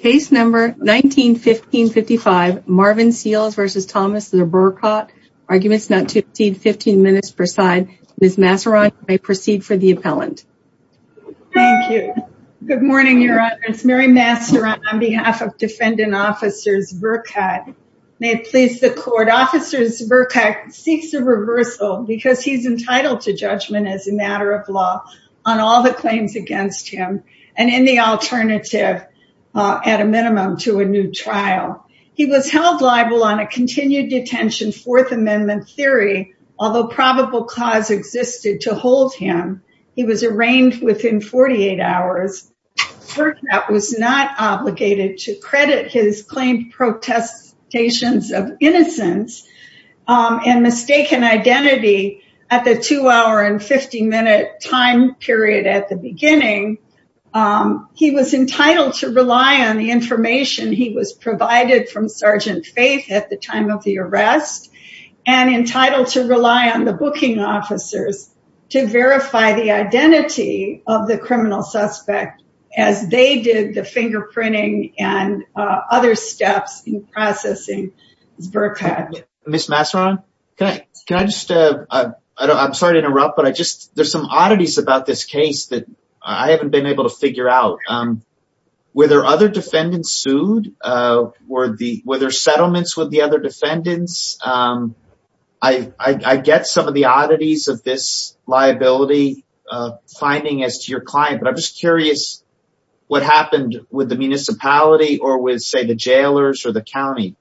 Case number 19-1555 Marvin Seales v. Thomas Zberkot. Arguments not to exceed 15 minutes per side. Ms. Masseron, you may proceed for the appellant. Thank you. Good morning, Your Honor. It's Mary Masseron on behalf of Defendant Officers Zberkot. May it please the Court. Officers Zberkot seeks a reversal because he's entitled to judgment as a matter of law on all the claims against him and in the alternative, at a minimum, to a new trial. He was held liable on a continued detention Fourth Amendment theory, although probable cause existed to hold him. He was arraigned within 48 hours. Zberkot was not obligated to credit his claimed protestations of innocence and mistaken identity at the two hour and 50 minute time period at the beginning. He was entitled to rely on the information he was provided from Sergeant Faith at the time of the arrest and entitled to rely on the booking officers to verify the identity of the criminal suspect as they did the fingerprinting and other steps in processing Zberkot. Ms. Masseron, I'm sorry to interrupt, but there's some oddities about this case that I haven't been able to figure out. Were there other defendants sued? Were there settlements with the other defendants? I get some of the oddities of this liability finding as to your client, but I'm just curious what happened with the municipality or with, say, the jailers or the county?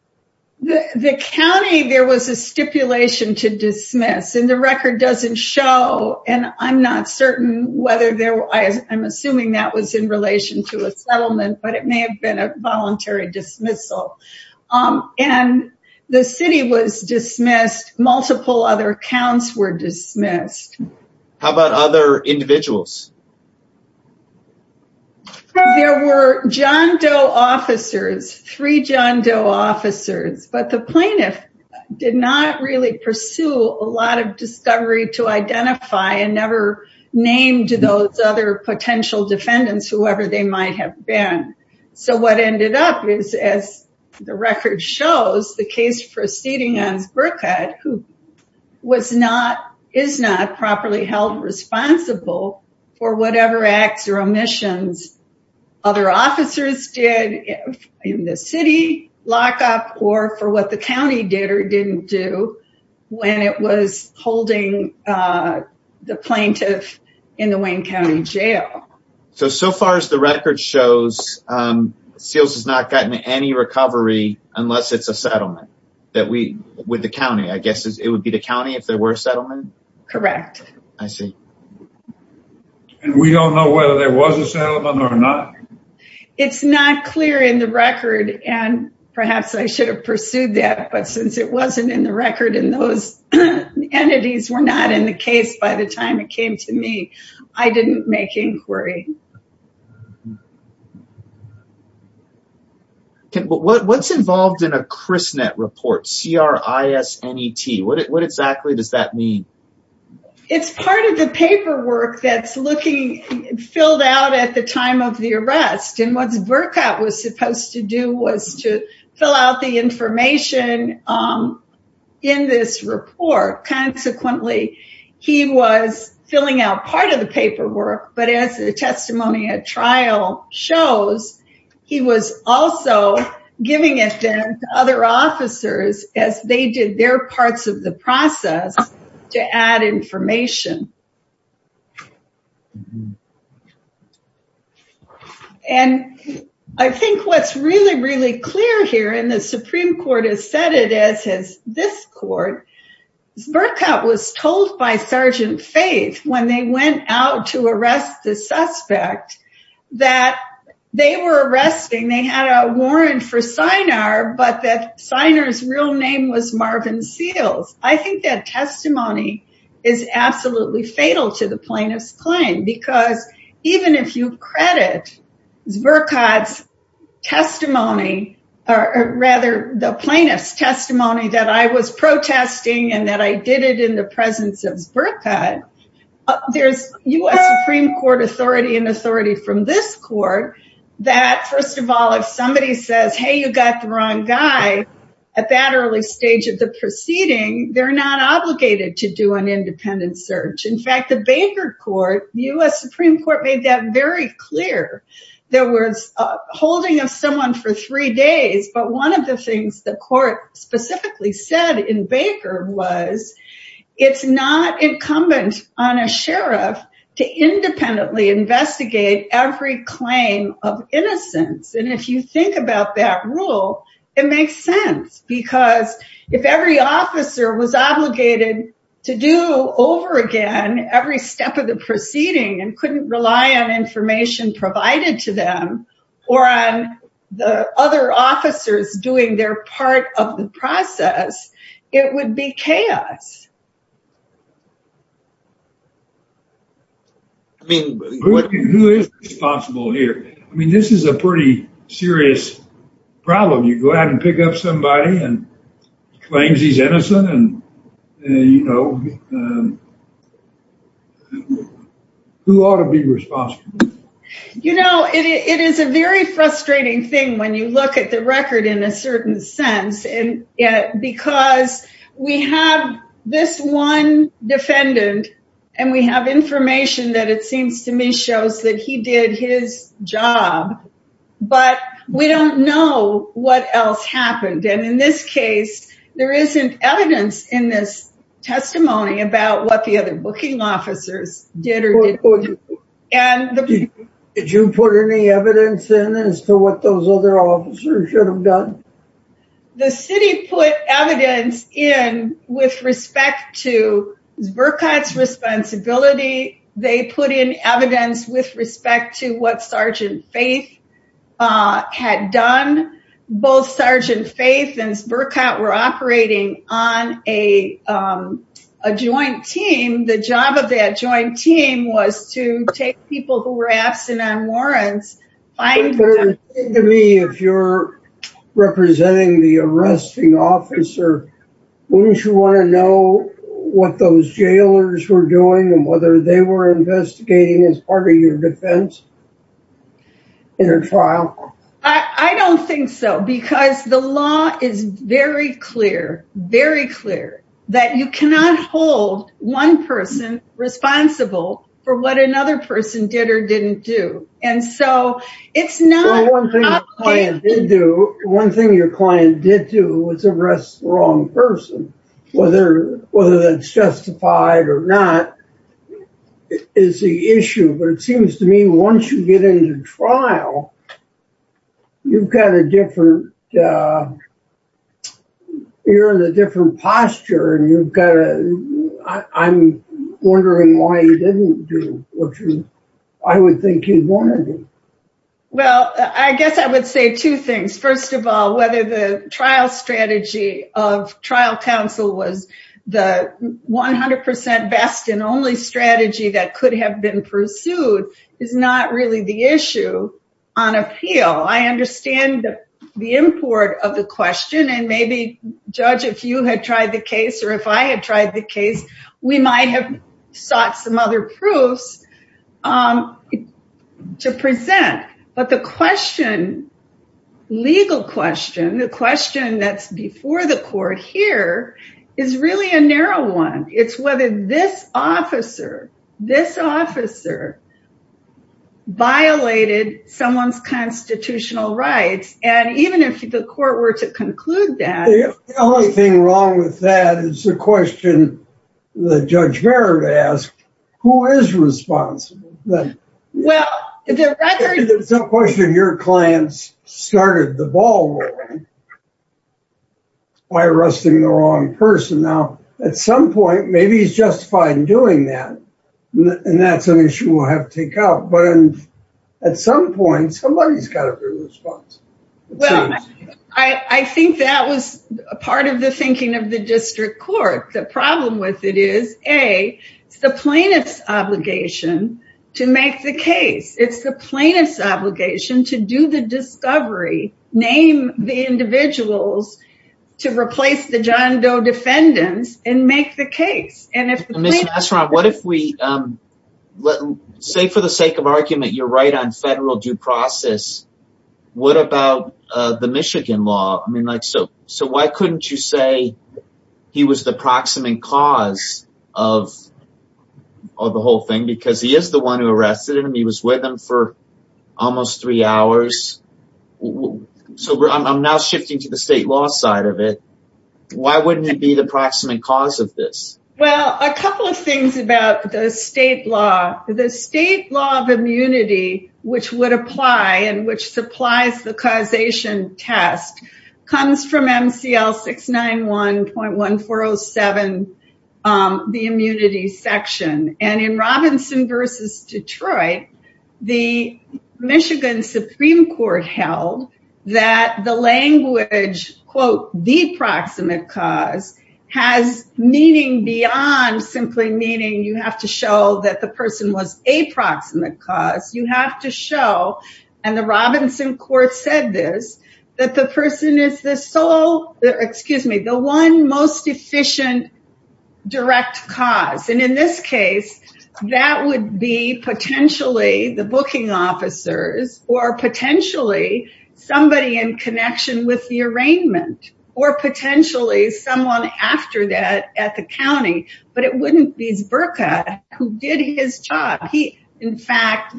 The county, there was a stipulation to dismiss and the record doesn't show and I'm not certain whether there was. I'm assuming that was in relation to a settlement, but it may have been a voluntary dismissal and the city was dismissed. Multiple other accounts were dismissed. How about other individuals? There were John Doe officers, three John Doe officers, but the plaintiff did not really pursue a lot of discovery to identify and never named those other potential defendants, whoever they might have been. So what ended up is, as the record shows, the case proceeding as Zberkot, who is not properly held responsible for whatever acts or omissions other officers did in the city lockup or for what the county did or didn't do when it was holding the plaintiff in the Wayne County Jail. So far as the record shows, Seals has not gotten any recovery unless it's a settlement that we, with the county, I guess it would be the county if there were a settlement? Correct. I see. And we don't know whether there was a settlement or not? It's not clear in the record and perhaps I should have pursued that, but since it wasn't in the record and those entities were not in the case by the time it came to me, I didn't make inquiry. What's involved in a CRISNET report, C-R-I-S-N-E-T, what exactly does that mean? It's part of the paperwork that's looking filled out at the time of the arrest and what Zberkot was supposed to do was to fill out the information in this report. Consequently, he was filling out part of the paperwork, but as the testimony at trial shows, he was also giving it to other officers as they did their parts of the process to add information. And I think what's really, really clear here, and the Supreme Court has said it as has this report, Zberkot was told by Sergeant Faith when they went out to arrest the suspect that they were arresting, they had a warrant for Sinar, but that Sinar's real name was Marvin Seals. I think that testimony is absolutely fatal to the plaintiff's claim because even if you credit Zberkot's testimony, or rather the plaintiff's testimony that I was protesting and that I did it in the presence of Zberkot, there's U.S. Supreme Court authority and authority from this court that first of all, if somebody says, hey, you got the wrong guy at that early stage of the proceeding, they're not obligated to do an independent search. In fact, the Baker Court, U.S. Supreme Court made that very clear. There was a holding of someone for three days, but one of the things the court specifically said in Baker was it's not incumbent on a sheriff to independently investigate every claim of innocence. And if you think about that rule, it makes sense because if every officer was obligated to do over again every step of the proceeding and couldn't rely on information provided to them or on the other officers doing their part of the process, it would be chaos. I mean, who is responsible here? I mean, this is a pretty serious problem. You go out and pick up somebody and claims he's innocent and, you know, who ought to be responsible? You know, it is a very frustrating thing when you look at the record in a certain sense, because we have this one defendant and we have information that it seems to me shows that he did his job, but we don't know what else happened. And in this case, there isn't evidence in this testimony about what the other booking officers did or didn't do. Did you put any evidence in as to what those other officers should have done? The city put evidence in with respect to Zbirkat's responsibility. They put in evidence with respect to what Sergeant Faith had done. Both Sergeant Faith and Zbirkat were operating on a joint team. The job of that joint team was to take people who were absent on warrants, find them. If you're representing the arresting officer, wouldn't you want to know what those jailers were doing and whether they were investigating as part of your defense in a trial? I don't think so, because the law is very clear, very clear that you cannot hold one person responsible for what another person did or didn't do. One thing your client did do was arrest the wrong person, whether that's justified or not is the issue. But it seems to me once you get into trial, you're in a different posture. I'm wondering why you didn't do what I would think you'd want to do. Well, I guess I would say two things. First of all, whether the trial strategy of trial counsel was the 100% best and only strategy that could have been pursued is not really the issue on and maybe judge, if you had tried the case, or if I had tried the case, we might have sought some other proofs to present. But the question, legal question, the question that's before the court here is really a narrow one. It's whether this officer, this officer violated someone's constitutional rights. And even if the court were to conclude that... The only thing wrong with that is the question that Judge Barrett asked, who is responsible? Well, the record... There's no question your clients started the ball rolling by arresting the wrong person. Now, at some point, maybe he's justified in doing that. And that's an issue we'll have to take out. But at some point, somebody's got to be responsible. Well, I think that was a part of the thinking of the district court. The problem with it is, A, it's the plaintiff's obligation to make the case. It's the plaintiff's obligation to do the discovery, name the individuals to replace the John Doe defendants and make the case. And if the plaintiff... Ms. Masseron, what if we... Say for the sake of argument, you're right on federal due process. What about the Michigan law? So why couldn't you say he was the proximate cause of the whole thing? Because he is the one who arrested him. He was with him for almost three hours. So I'm now shifting to the state law side of it. Why wouldn't it be the proximate cause of this? Well, a couple of things about the state law. The state law of immunity, which would apply and which supplies the causation test comes from MCL 691.1407, the immunity section. And in Robinson versus Detroit, the Michigan Supreme Court held that the language, quote, the proximate cause has meaning beyond simply meaning you have to show that the person was a proximate cause. You have to show, and the Robinson court said this, that the person is the sole, excuse me, the one most efficient direct cause. And in this case, that would be potentially the booking officers or potentially somebody in connection with the He, in fact,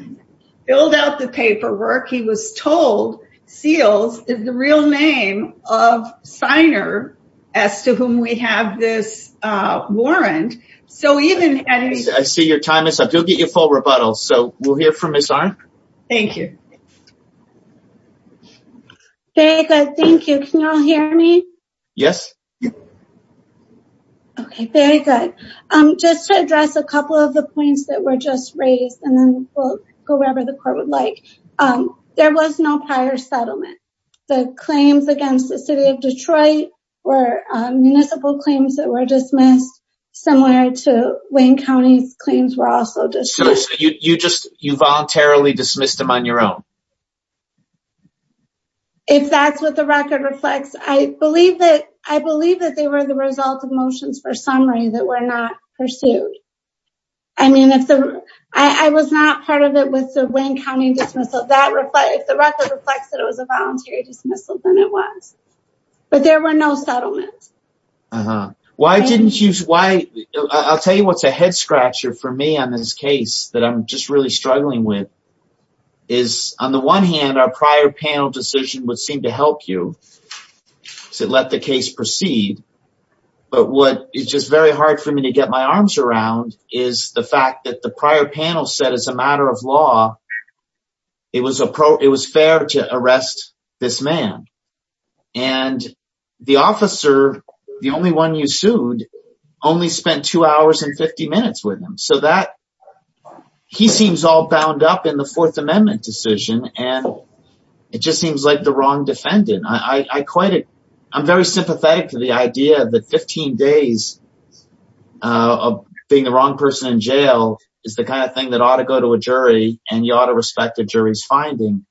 filled out the paperwork. He was told seals is the real name of signer as to whom we have this warrant. So even- I see your time is up. You'll get your full rebuttal. So we'll hear from Ms. Arnn. Thank you. Very good. Thank you. Can you all hear me? Yes. Yep. Okay, very good. Just to address a couple of the points that were just raised, and then we'll go wherever the court would like. There was no prior settlement. The claims against the city of Detroit were municipal claims that were dismissed, similar to Wayne County's claims were also dismissed. So you just, you voluntarily dismissed them on your own? If that's what the record reflects, I believe that, I believe that they were the result of motions for summary that were not pursued. I mean, if the, I was not part of it with the Wayne County dismissal, that reflect, if the record reflects that it was a voluntary dismissal, then it was. But there were no settlements. Uh-huh. Why didn't you, why, I'll tell you what's a head scratcher for me on this case that I'm just really struggling with, is I'm not sure if I'm the one hand, our prior panel decision would seem to help you to let the case proceed. But what, it's just very hard for me to get my arms around, is the fact that the prior panel said as a matter of law, it was a pro, it was fair to arrest this man. And the officer, the only one you sued, only spent two hours and 50 minutes with him. So that, he seems all bound up in the Fourth Amendment decision. And it just seems like the wrong defendant. I quite, I'm very sympathetic to the idea that 15 days of being the wrong person in jail is the kind of thing that ought to go to a jury and you ought to respect the jury's finding.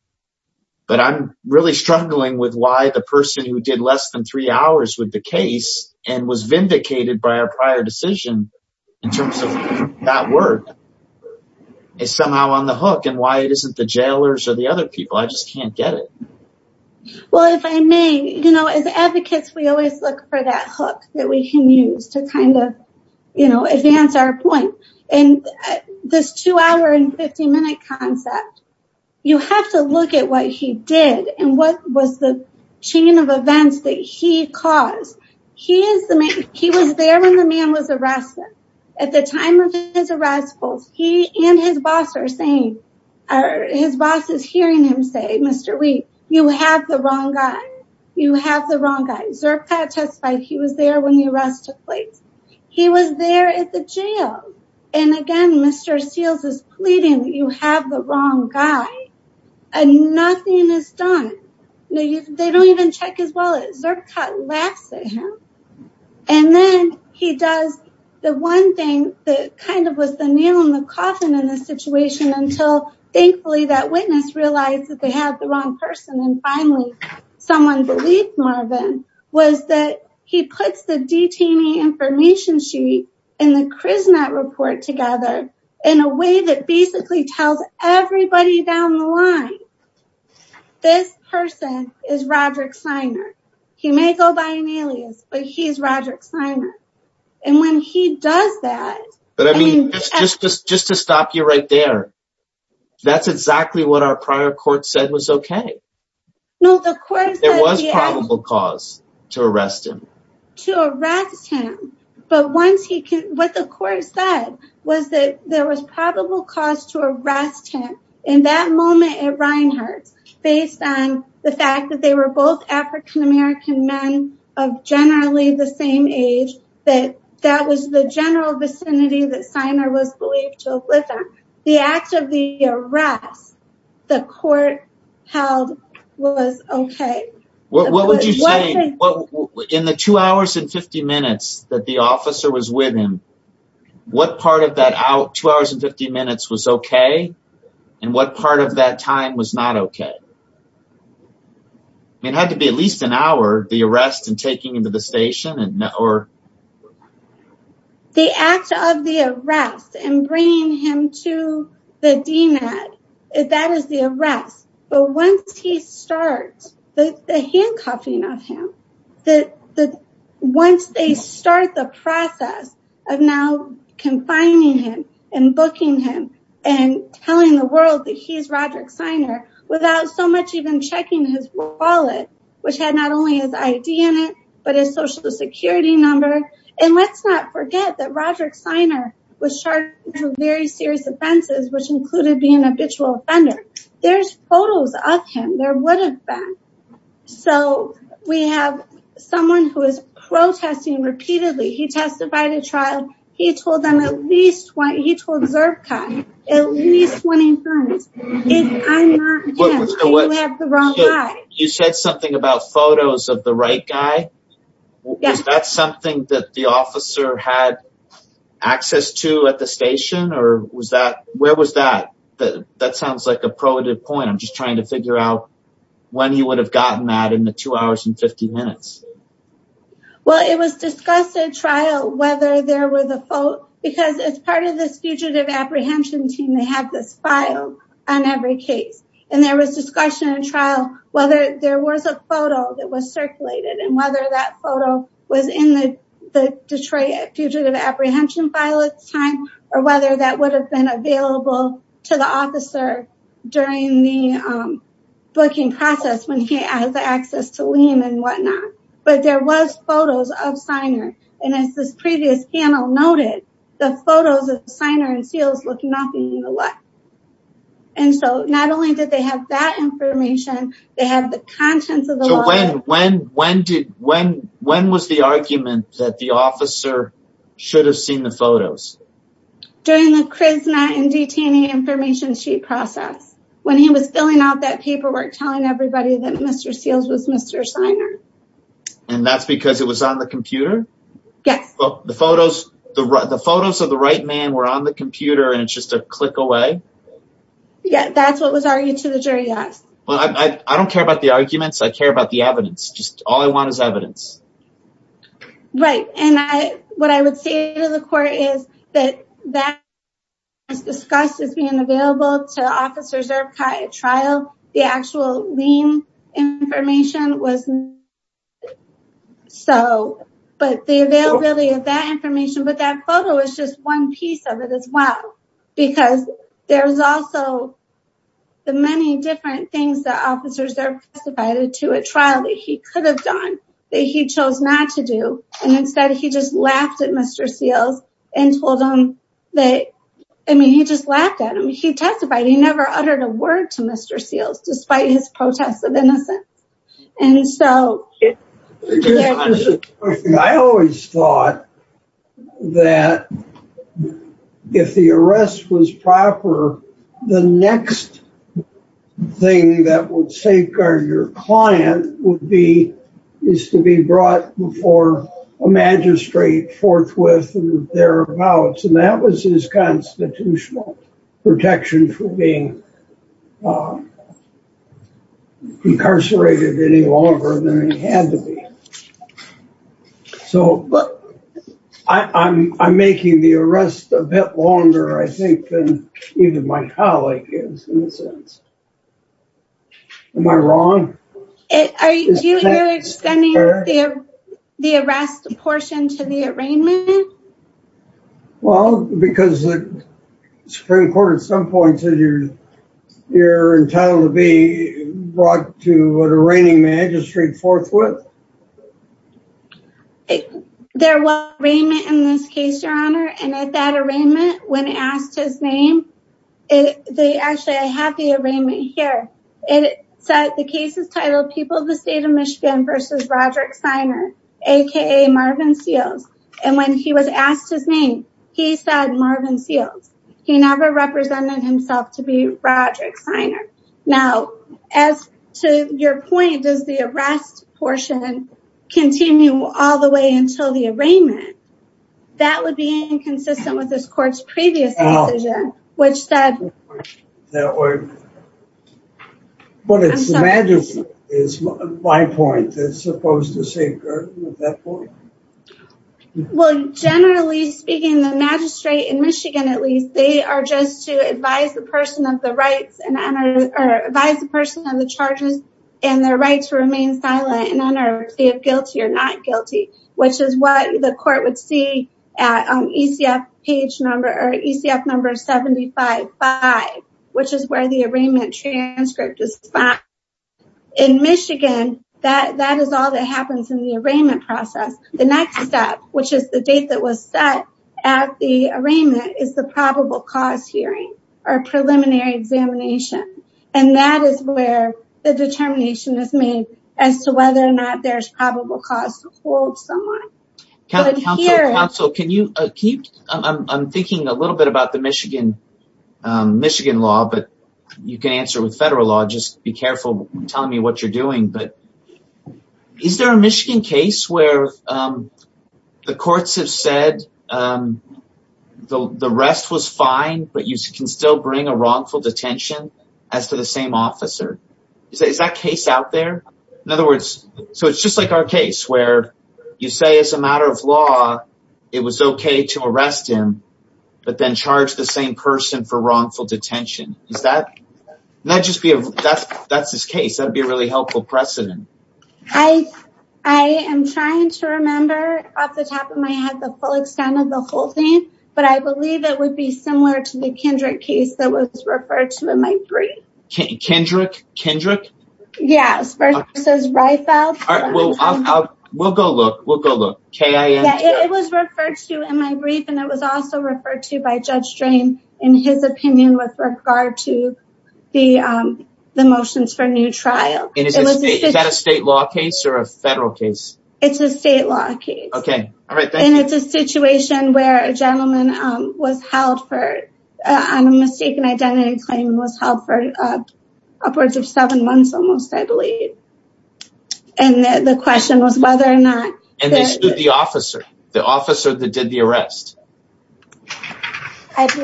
But I'm really struggling with why the person who did less than three hours with the case and was vindicated by our prior decision in terms of that word, is somehow on the hook and why it isn't the jailers or the other people. I just can't get it. Well, if I may, you know, as advocates, we always look for that hook that we can use to kind of, you know, advance our point. And this two hour and 50 minute concept, you have to look at what he did and what was the chain of events that he caused. He is the man, he was there when the man was arrested. At the time of his arrest, both he and his boss are saying, his boss is hearing him say, Mr. Week, you have the wrong guy. You have the wrong guy. Zerkat testified he was there when the arrest took place. He was there at the jail. And again, Mr. Seals is pleading, you have the wrong guy. And nothing is done. They don't even check his name. And then he does the one thing that kind of was the nail in the coffin in this situation until thankfully that witness realized that they had the wrong person. And finally, someone believed Marvin was that he puts the detainee information sheet and the Kriznat report together in a way that basically tells everybody down the line, this person is Roderick Simon. And when he does that, but I mean, just just just to stop you right there. That's exactly what our prior court said was okay. No, the court was probable cause to arrest him, to arrest him. But once he can, what the court said was that there was probable cause to arrest him in that moment at Reinhardt, based on the fact that they were both African American men of generally the same age, that that was the general vicinity that Simon was believed to live in. The act of the arrest, the court held was okay. What would you say in the two hours and 50 minutes that the officer was with him? What part of that out two hours and 50 minutes was okay? And what part of that time was not okay? It had to be at least an hour, the arrest and taking him to the station and or. The act of the arrest and bringing him to the DNAT, that is the arrest. But once he starts the handcuffing of him, that once they start the process of now confining him and booking him and telling the world that he's Roderick Siner without so much even checking his wallet, which had not only his ID in it, but his social security number. And let's not forget that Roderick Siner was charged with very serious offenses, which included being a habitual offender. There's photos of him, there would have been. So we have someone who is protesting repeatedly. He testified at trial. He told them at least one, he told Zurbka at least 20 times. You said something about photos of the right guy. Yes. That's something that the officer had access to at the station or was that, where was that? That sounds like a probative point. I'm just trying to figure out when he would have gotten mad in the two hours and 50 minutes. Well, it was discussed at trial whether there were the photo, because as part of this fugitive apprehension team, they have this file on every case. And there was discussion at trial whether there was a photo that was circulated and whether that photo was in the Detroit fugitive apprehension file at the time, or whether that would have been available to the officer during the booking process when he has the access to Liam and whatnot. But there was photos of Siner. And as this previous panel noted, the photos of Siner and Seals look nothing alike. And so not only did they have that information, they have the conscience of the law. So when was the argument that the officer should have seen the photos? During the Krizna and detaining information sheet process, when he was filling out that Mr. Seals was Mr. Siner. And that's because it was on the computer? Yes. The photos of the right man were on the computer and it's just a click away? Yeah, that's what was argued to the jury, yes. Well, I don't care about the arguments. I care about the evidence. Just all I want is evidence. Right. And what I would say to the court is that that was discussed as being available to Liam. But the availability of that information, but that photo is just one piece of it as well. Because there's also the many different things that officers are testified to a trial that he could have done that he chose not to do. And instead, he just laughed at Mr. Seals and told that, I mean, he just laughed at him. He testified, he never uttered a word to Mr. Seals, despite his protests of innocence. And so I always thought that if the arrest was proper, the next thing that would safeguard your client would be is to be brought before a magistrate forthwith and thereabouts. And that was his constitutional protection from being incarcerated any longer than he had to be. So I'm making the arrest a bit longer, I think, than even my colleague is, in a sense. Am I wrong? Are you extending the arrest portion to the arraignment? Well, because the Supreme Court at some point said you're entitled to be brought to an arraigning magistrate forthwith. There was an arraignment in this case, Your Honor. And at that arraignment, when asked his name, actually, I have the arraignment here. It said the case is titled People of the State of Michigan versus Roderick Siner, aka Marvin Seals. And when he was asked his name, he said Marvin Seals. He never represented himself to be Roderick Siner. Now, as to your point, does the arrest portion continue all the way until the arraignment? That would be inconsistent with this court's previous decision, which said... But it's my point that's supposed to say... Well, generally speaking, the magistrate in Michigan, at least, they are just to advise the person of the rights and honor or advise the person on the charges and their right to not guilty, which is what the court would see at ECF page number 75-5, which is where the arraignment transcript is found. In Michigan, that is all that happens in the arraignment process. The next step, which is the date that was set at the arraignment, is the probable cause hearing or preliminary examination. And that is where the determination is made as to whether or not there's probable cause to hold someone. Counsel, counsel, counsel, I'm thinking a little bit about the Michigan law, but you can answer with federal law. Just be careful telling me what you're doing. But is there a Michigan case where the courts have said the arrest was fine, but you can still bring a wrongful detention as to the same officer? Is that case out there? In other words, so it's just like our case where you say as a matter of law, it was okay to arrest him, but then charge the same person for wrongful detention. That's his case. That'd be a really helpful precedent. I am trying to remember off the top of my head the full extent of the whole thing, but I believe it would be similar to the Kendrick case that was referred to in my brief. Kendrick? Kendrick? Yes, versus Reifeld. We'll go look. We'll go look. K-I-N-K. It was referred to in my brief, and it was also referred to by Judge Drain in his opinion with regard to the motions for new trial. Is that a state law case or a federal case? It's a state law case. Okay. All right. And it's a situation where a gentleman was held on a mistaken identity claim and was held for upwards of seven months almost, I believe. And the question was whether or not- And they sued the officer, the officer that did the arrest. What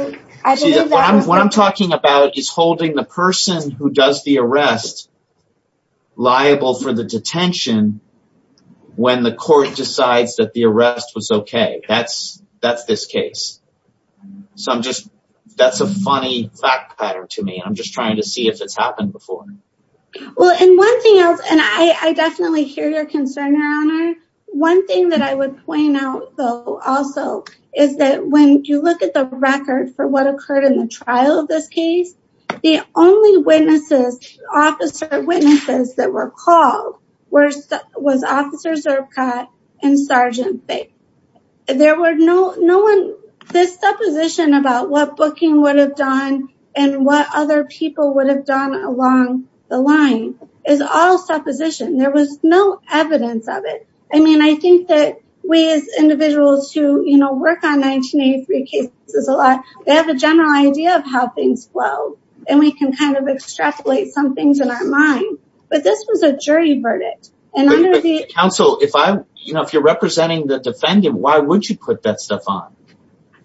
I'm talking about is holding the person who does the arrest liable for the detention when the court decides that the arrest was okay. That's this case. So I'm just, that's a funny fact pattern to me. I'm just trying to see if it's happened before. Well, and one thing else, and I definitely hear your concern, Your Honor. One thing that I would point out though also is that when you look at the record for what occurred in the trial of this case, the only witnesses, officer witnesses that were called was Officer Zurbkot and Sergeant Fick. There were no, no one, this supposition about what booking would have done and what other people would have done along the line is all supposition. There was no evidence of it. I mean, I think that we as individuals who work on 1983 cases a lot, they have a general idea of how things flow and we can kind of extrapolate some things in our mind. But this was a jury verdict. Counsel, if I, you know, if you're representing the defendant, why would you put that stuff on?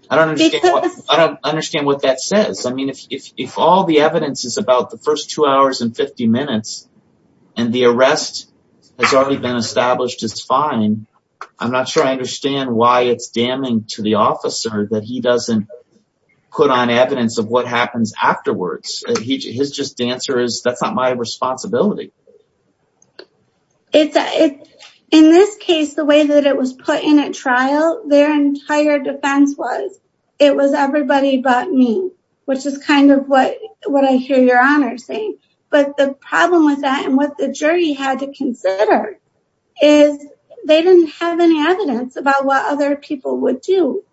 I don't understand. I don't understand what that says. I mean, if all the evidence is about the first two hours and 50 minutes and the arrest has already been established, it's fine. I'm not sure I understand why it's damning to the officer that he doesn't put on evidence of what happens afterwards. His just answer is, that's not my responsibility. In this case, the way that it was put in at trial, their entire defense was, it was everybody but me, which is kind of what, what I hear your honor saying. But the problem with that and what the jury had to consider is they didn't have any evidence about what other people would do.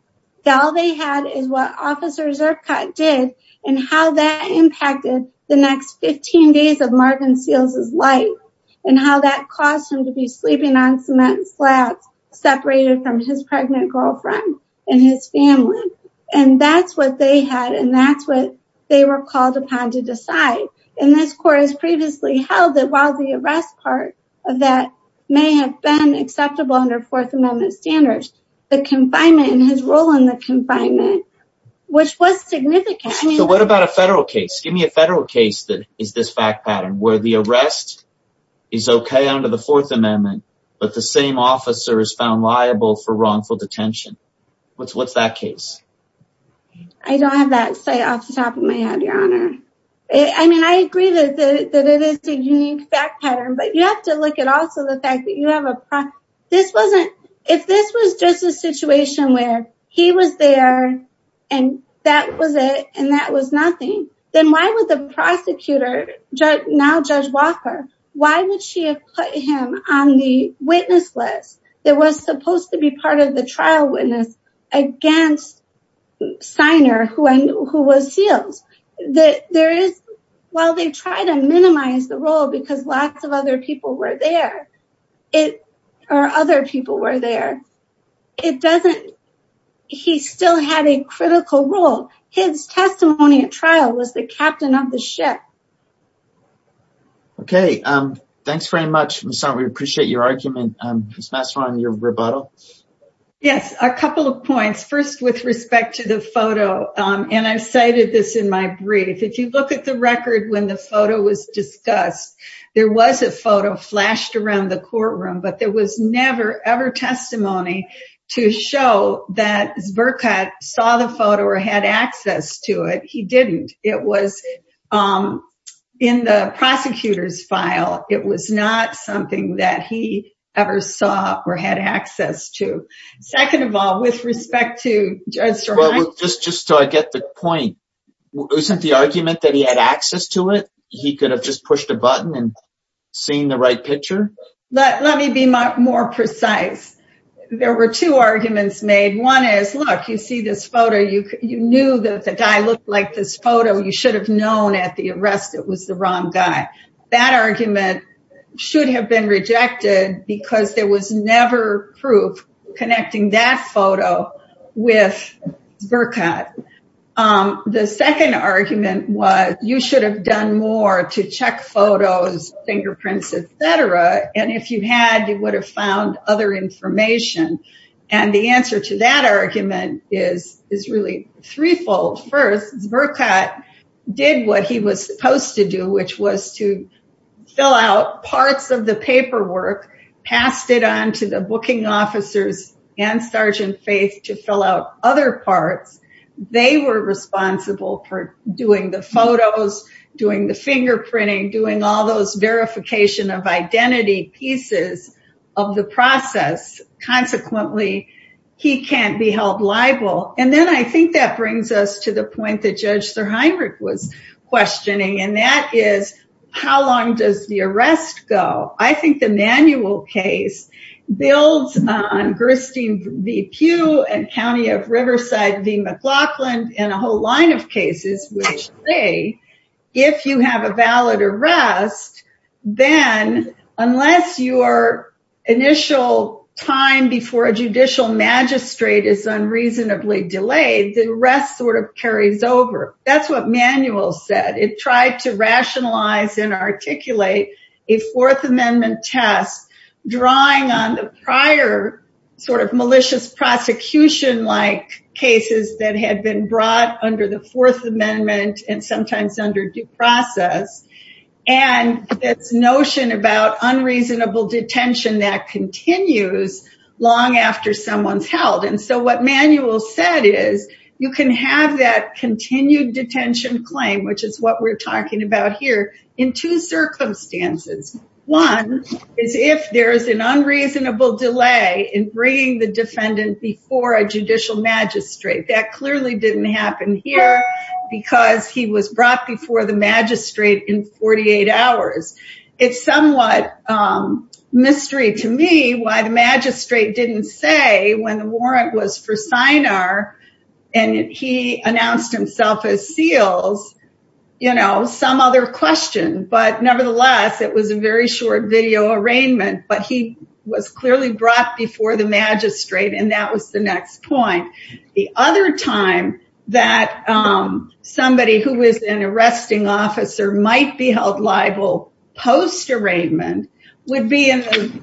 All they had is what Officer Zirkut did and how that impacted the next 15 days of Marvin Seals' life and how that caused him to be sleeping on cement slabs separated from his pregnant girlfriend and his family. And that's what they had and that's what they were called upon to decide. And this court has previously held that while the arrest part of that may have acceptable under Fourth Amendment standards, the confinement and his role in the confinement, which was significant. So what about a federal case? Give me a federal case that is this fact pattern where the arrest is okay under the Fourth Amendment, but the same officer is found liable for wrongful detention. What's that case? I don't have that say off the top of my head, your honor. I mean, I agree that it is a unique fact pattern, but you have to look at also the this wasn't, if this was just a situation where he was there and that was it and that was nothing, then why would the prosecutor, now Judge Walker, why would she have put him on the witness list that was supposed to be part of the trial witness against Siner, who was Seals? There is, while they try to minimize the role because lots of other people were there, or other people were there, it doesn't, he still had a critical role. His testimony at trial was the captain of the ship. Okay. Thanks very much, Ms. Hunt. We appreciate your argument. Ms. Masseron, your rebuttal? Yes. A couple of points. First, with respect to the photo, and I've cited this in my brief. If you look at the record when the photo was discussed, there was a photo flashed around the courtroom, but there was never ever testimony to show that Zbirka saw the photo or had access to it. He didn't. It was in the prosecutor's file. It was not something that he ever saw or had access to. Second of all, with respect to Judge Strahan. Just so I get the point. Isn't the argument that he had access to it? He could have just pushed a button and the right picture? Let me be more precise. There were two arguments made. One is, look, you see this photo. You knew that the guy looked like this photo. You should have known at the arrest it was the wrong guy. That argument should have been rejected because there was never proof connecting that photo with Zbirka. The second argument was you should have done more to check photos, fingerprints, et cetera. If you had, you would have found other information. The answer to that argument is really threefold. First, Zbirka did what he was supposed to do, which was to fill out parts of the paperwork, passed it on to the booking officers and Sergeant Faith to fill out other parts. They were responsible for doing the photos, doing the verification of identity pieces of the process. Consequently, he can't be held liable. And then I think that brings us to the point that Judge Strahan was questioning. And that is, how long does the arrest go? I think the manual case builds on Gerstein v. Pugh and then, unless your initial time before a judicial magistrate is unreasonably delayed, the arrest sort of carries over. That's what manual said. It tried to rationalize and articulate a Fourth Amendment test drawing on the prior sort of malicious prosecution-like cases that had been brought under the Fourth Amendment and sometimes under due process. And this notion about unreasonable detention that continues long after someone's held. And so what manual said is, you can have that continued detention claim, which is what we're talking about here, in two circumstances. One is if there is an unreasonable delay in bringing the defendant before a judicial magistrate. That clearly didn't happen here because he was brought before the magistrate in 48 hours. It's somewhat mystery to me why the magistrate didn't say when the warrant was for Sinar and he announced himself as seals, you know, some other question. But nevertheless, it was a very short video arraignment. But he was clearly brought before the magistrate and that was the next point. The other time that somebody who was an arresting officer might be held liable post arraignment would be in the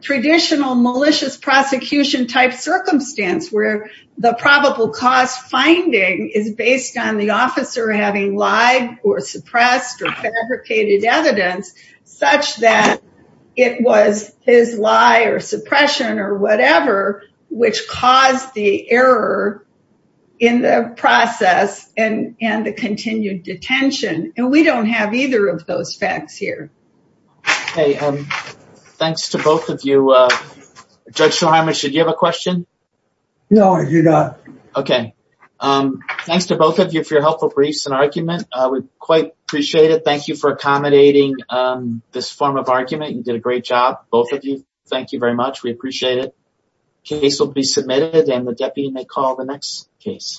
traditional malicious prosecution type circumstance where the probable cause finding is based on the officer having lied or suppressed or fabricated evidence such that it was his lie or suppression or whatever, which caused the error in the process and the continued detention. And we don't have either of those facts here. Hey, thanks to both of you. Judge Shulheimer, should you have a question? No, I do not. Okay. Thanks to both of you for your helpful briefs and argument. We quite appreciate it. Thank you for accommodating this form of argument. You did a great job, both of you. Thank you very much. We appreciate it. Case will be submitted and the deputy may call the next case.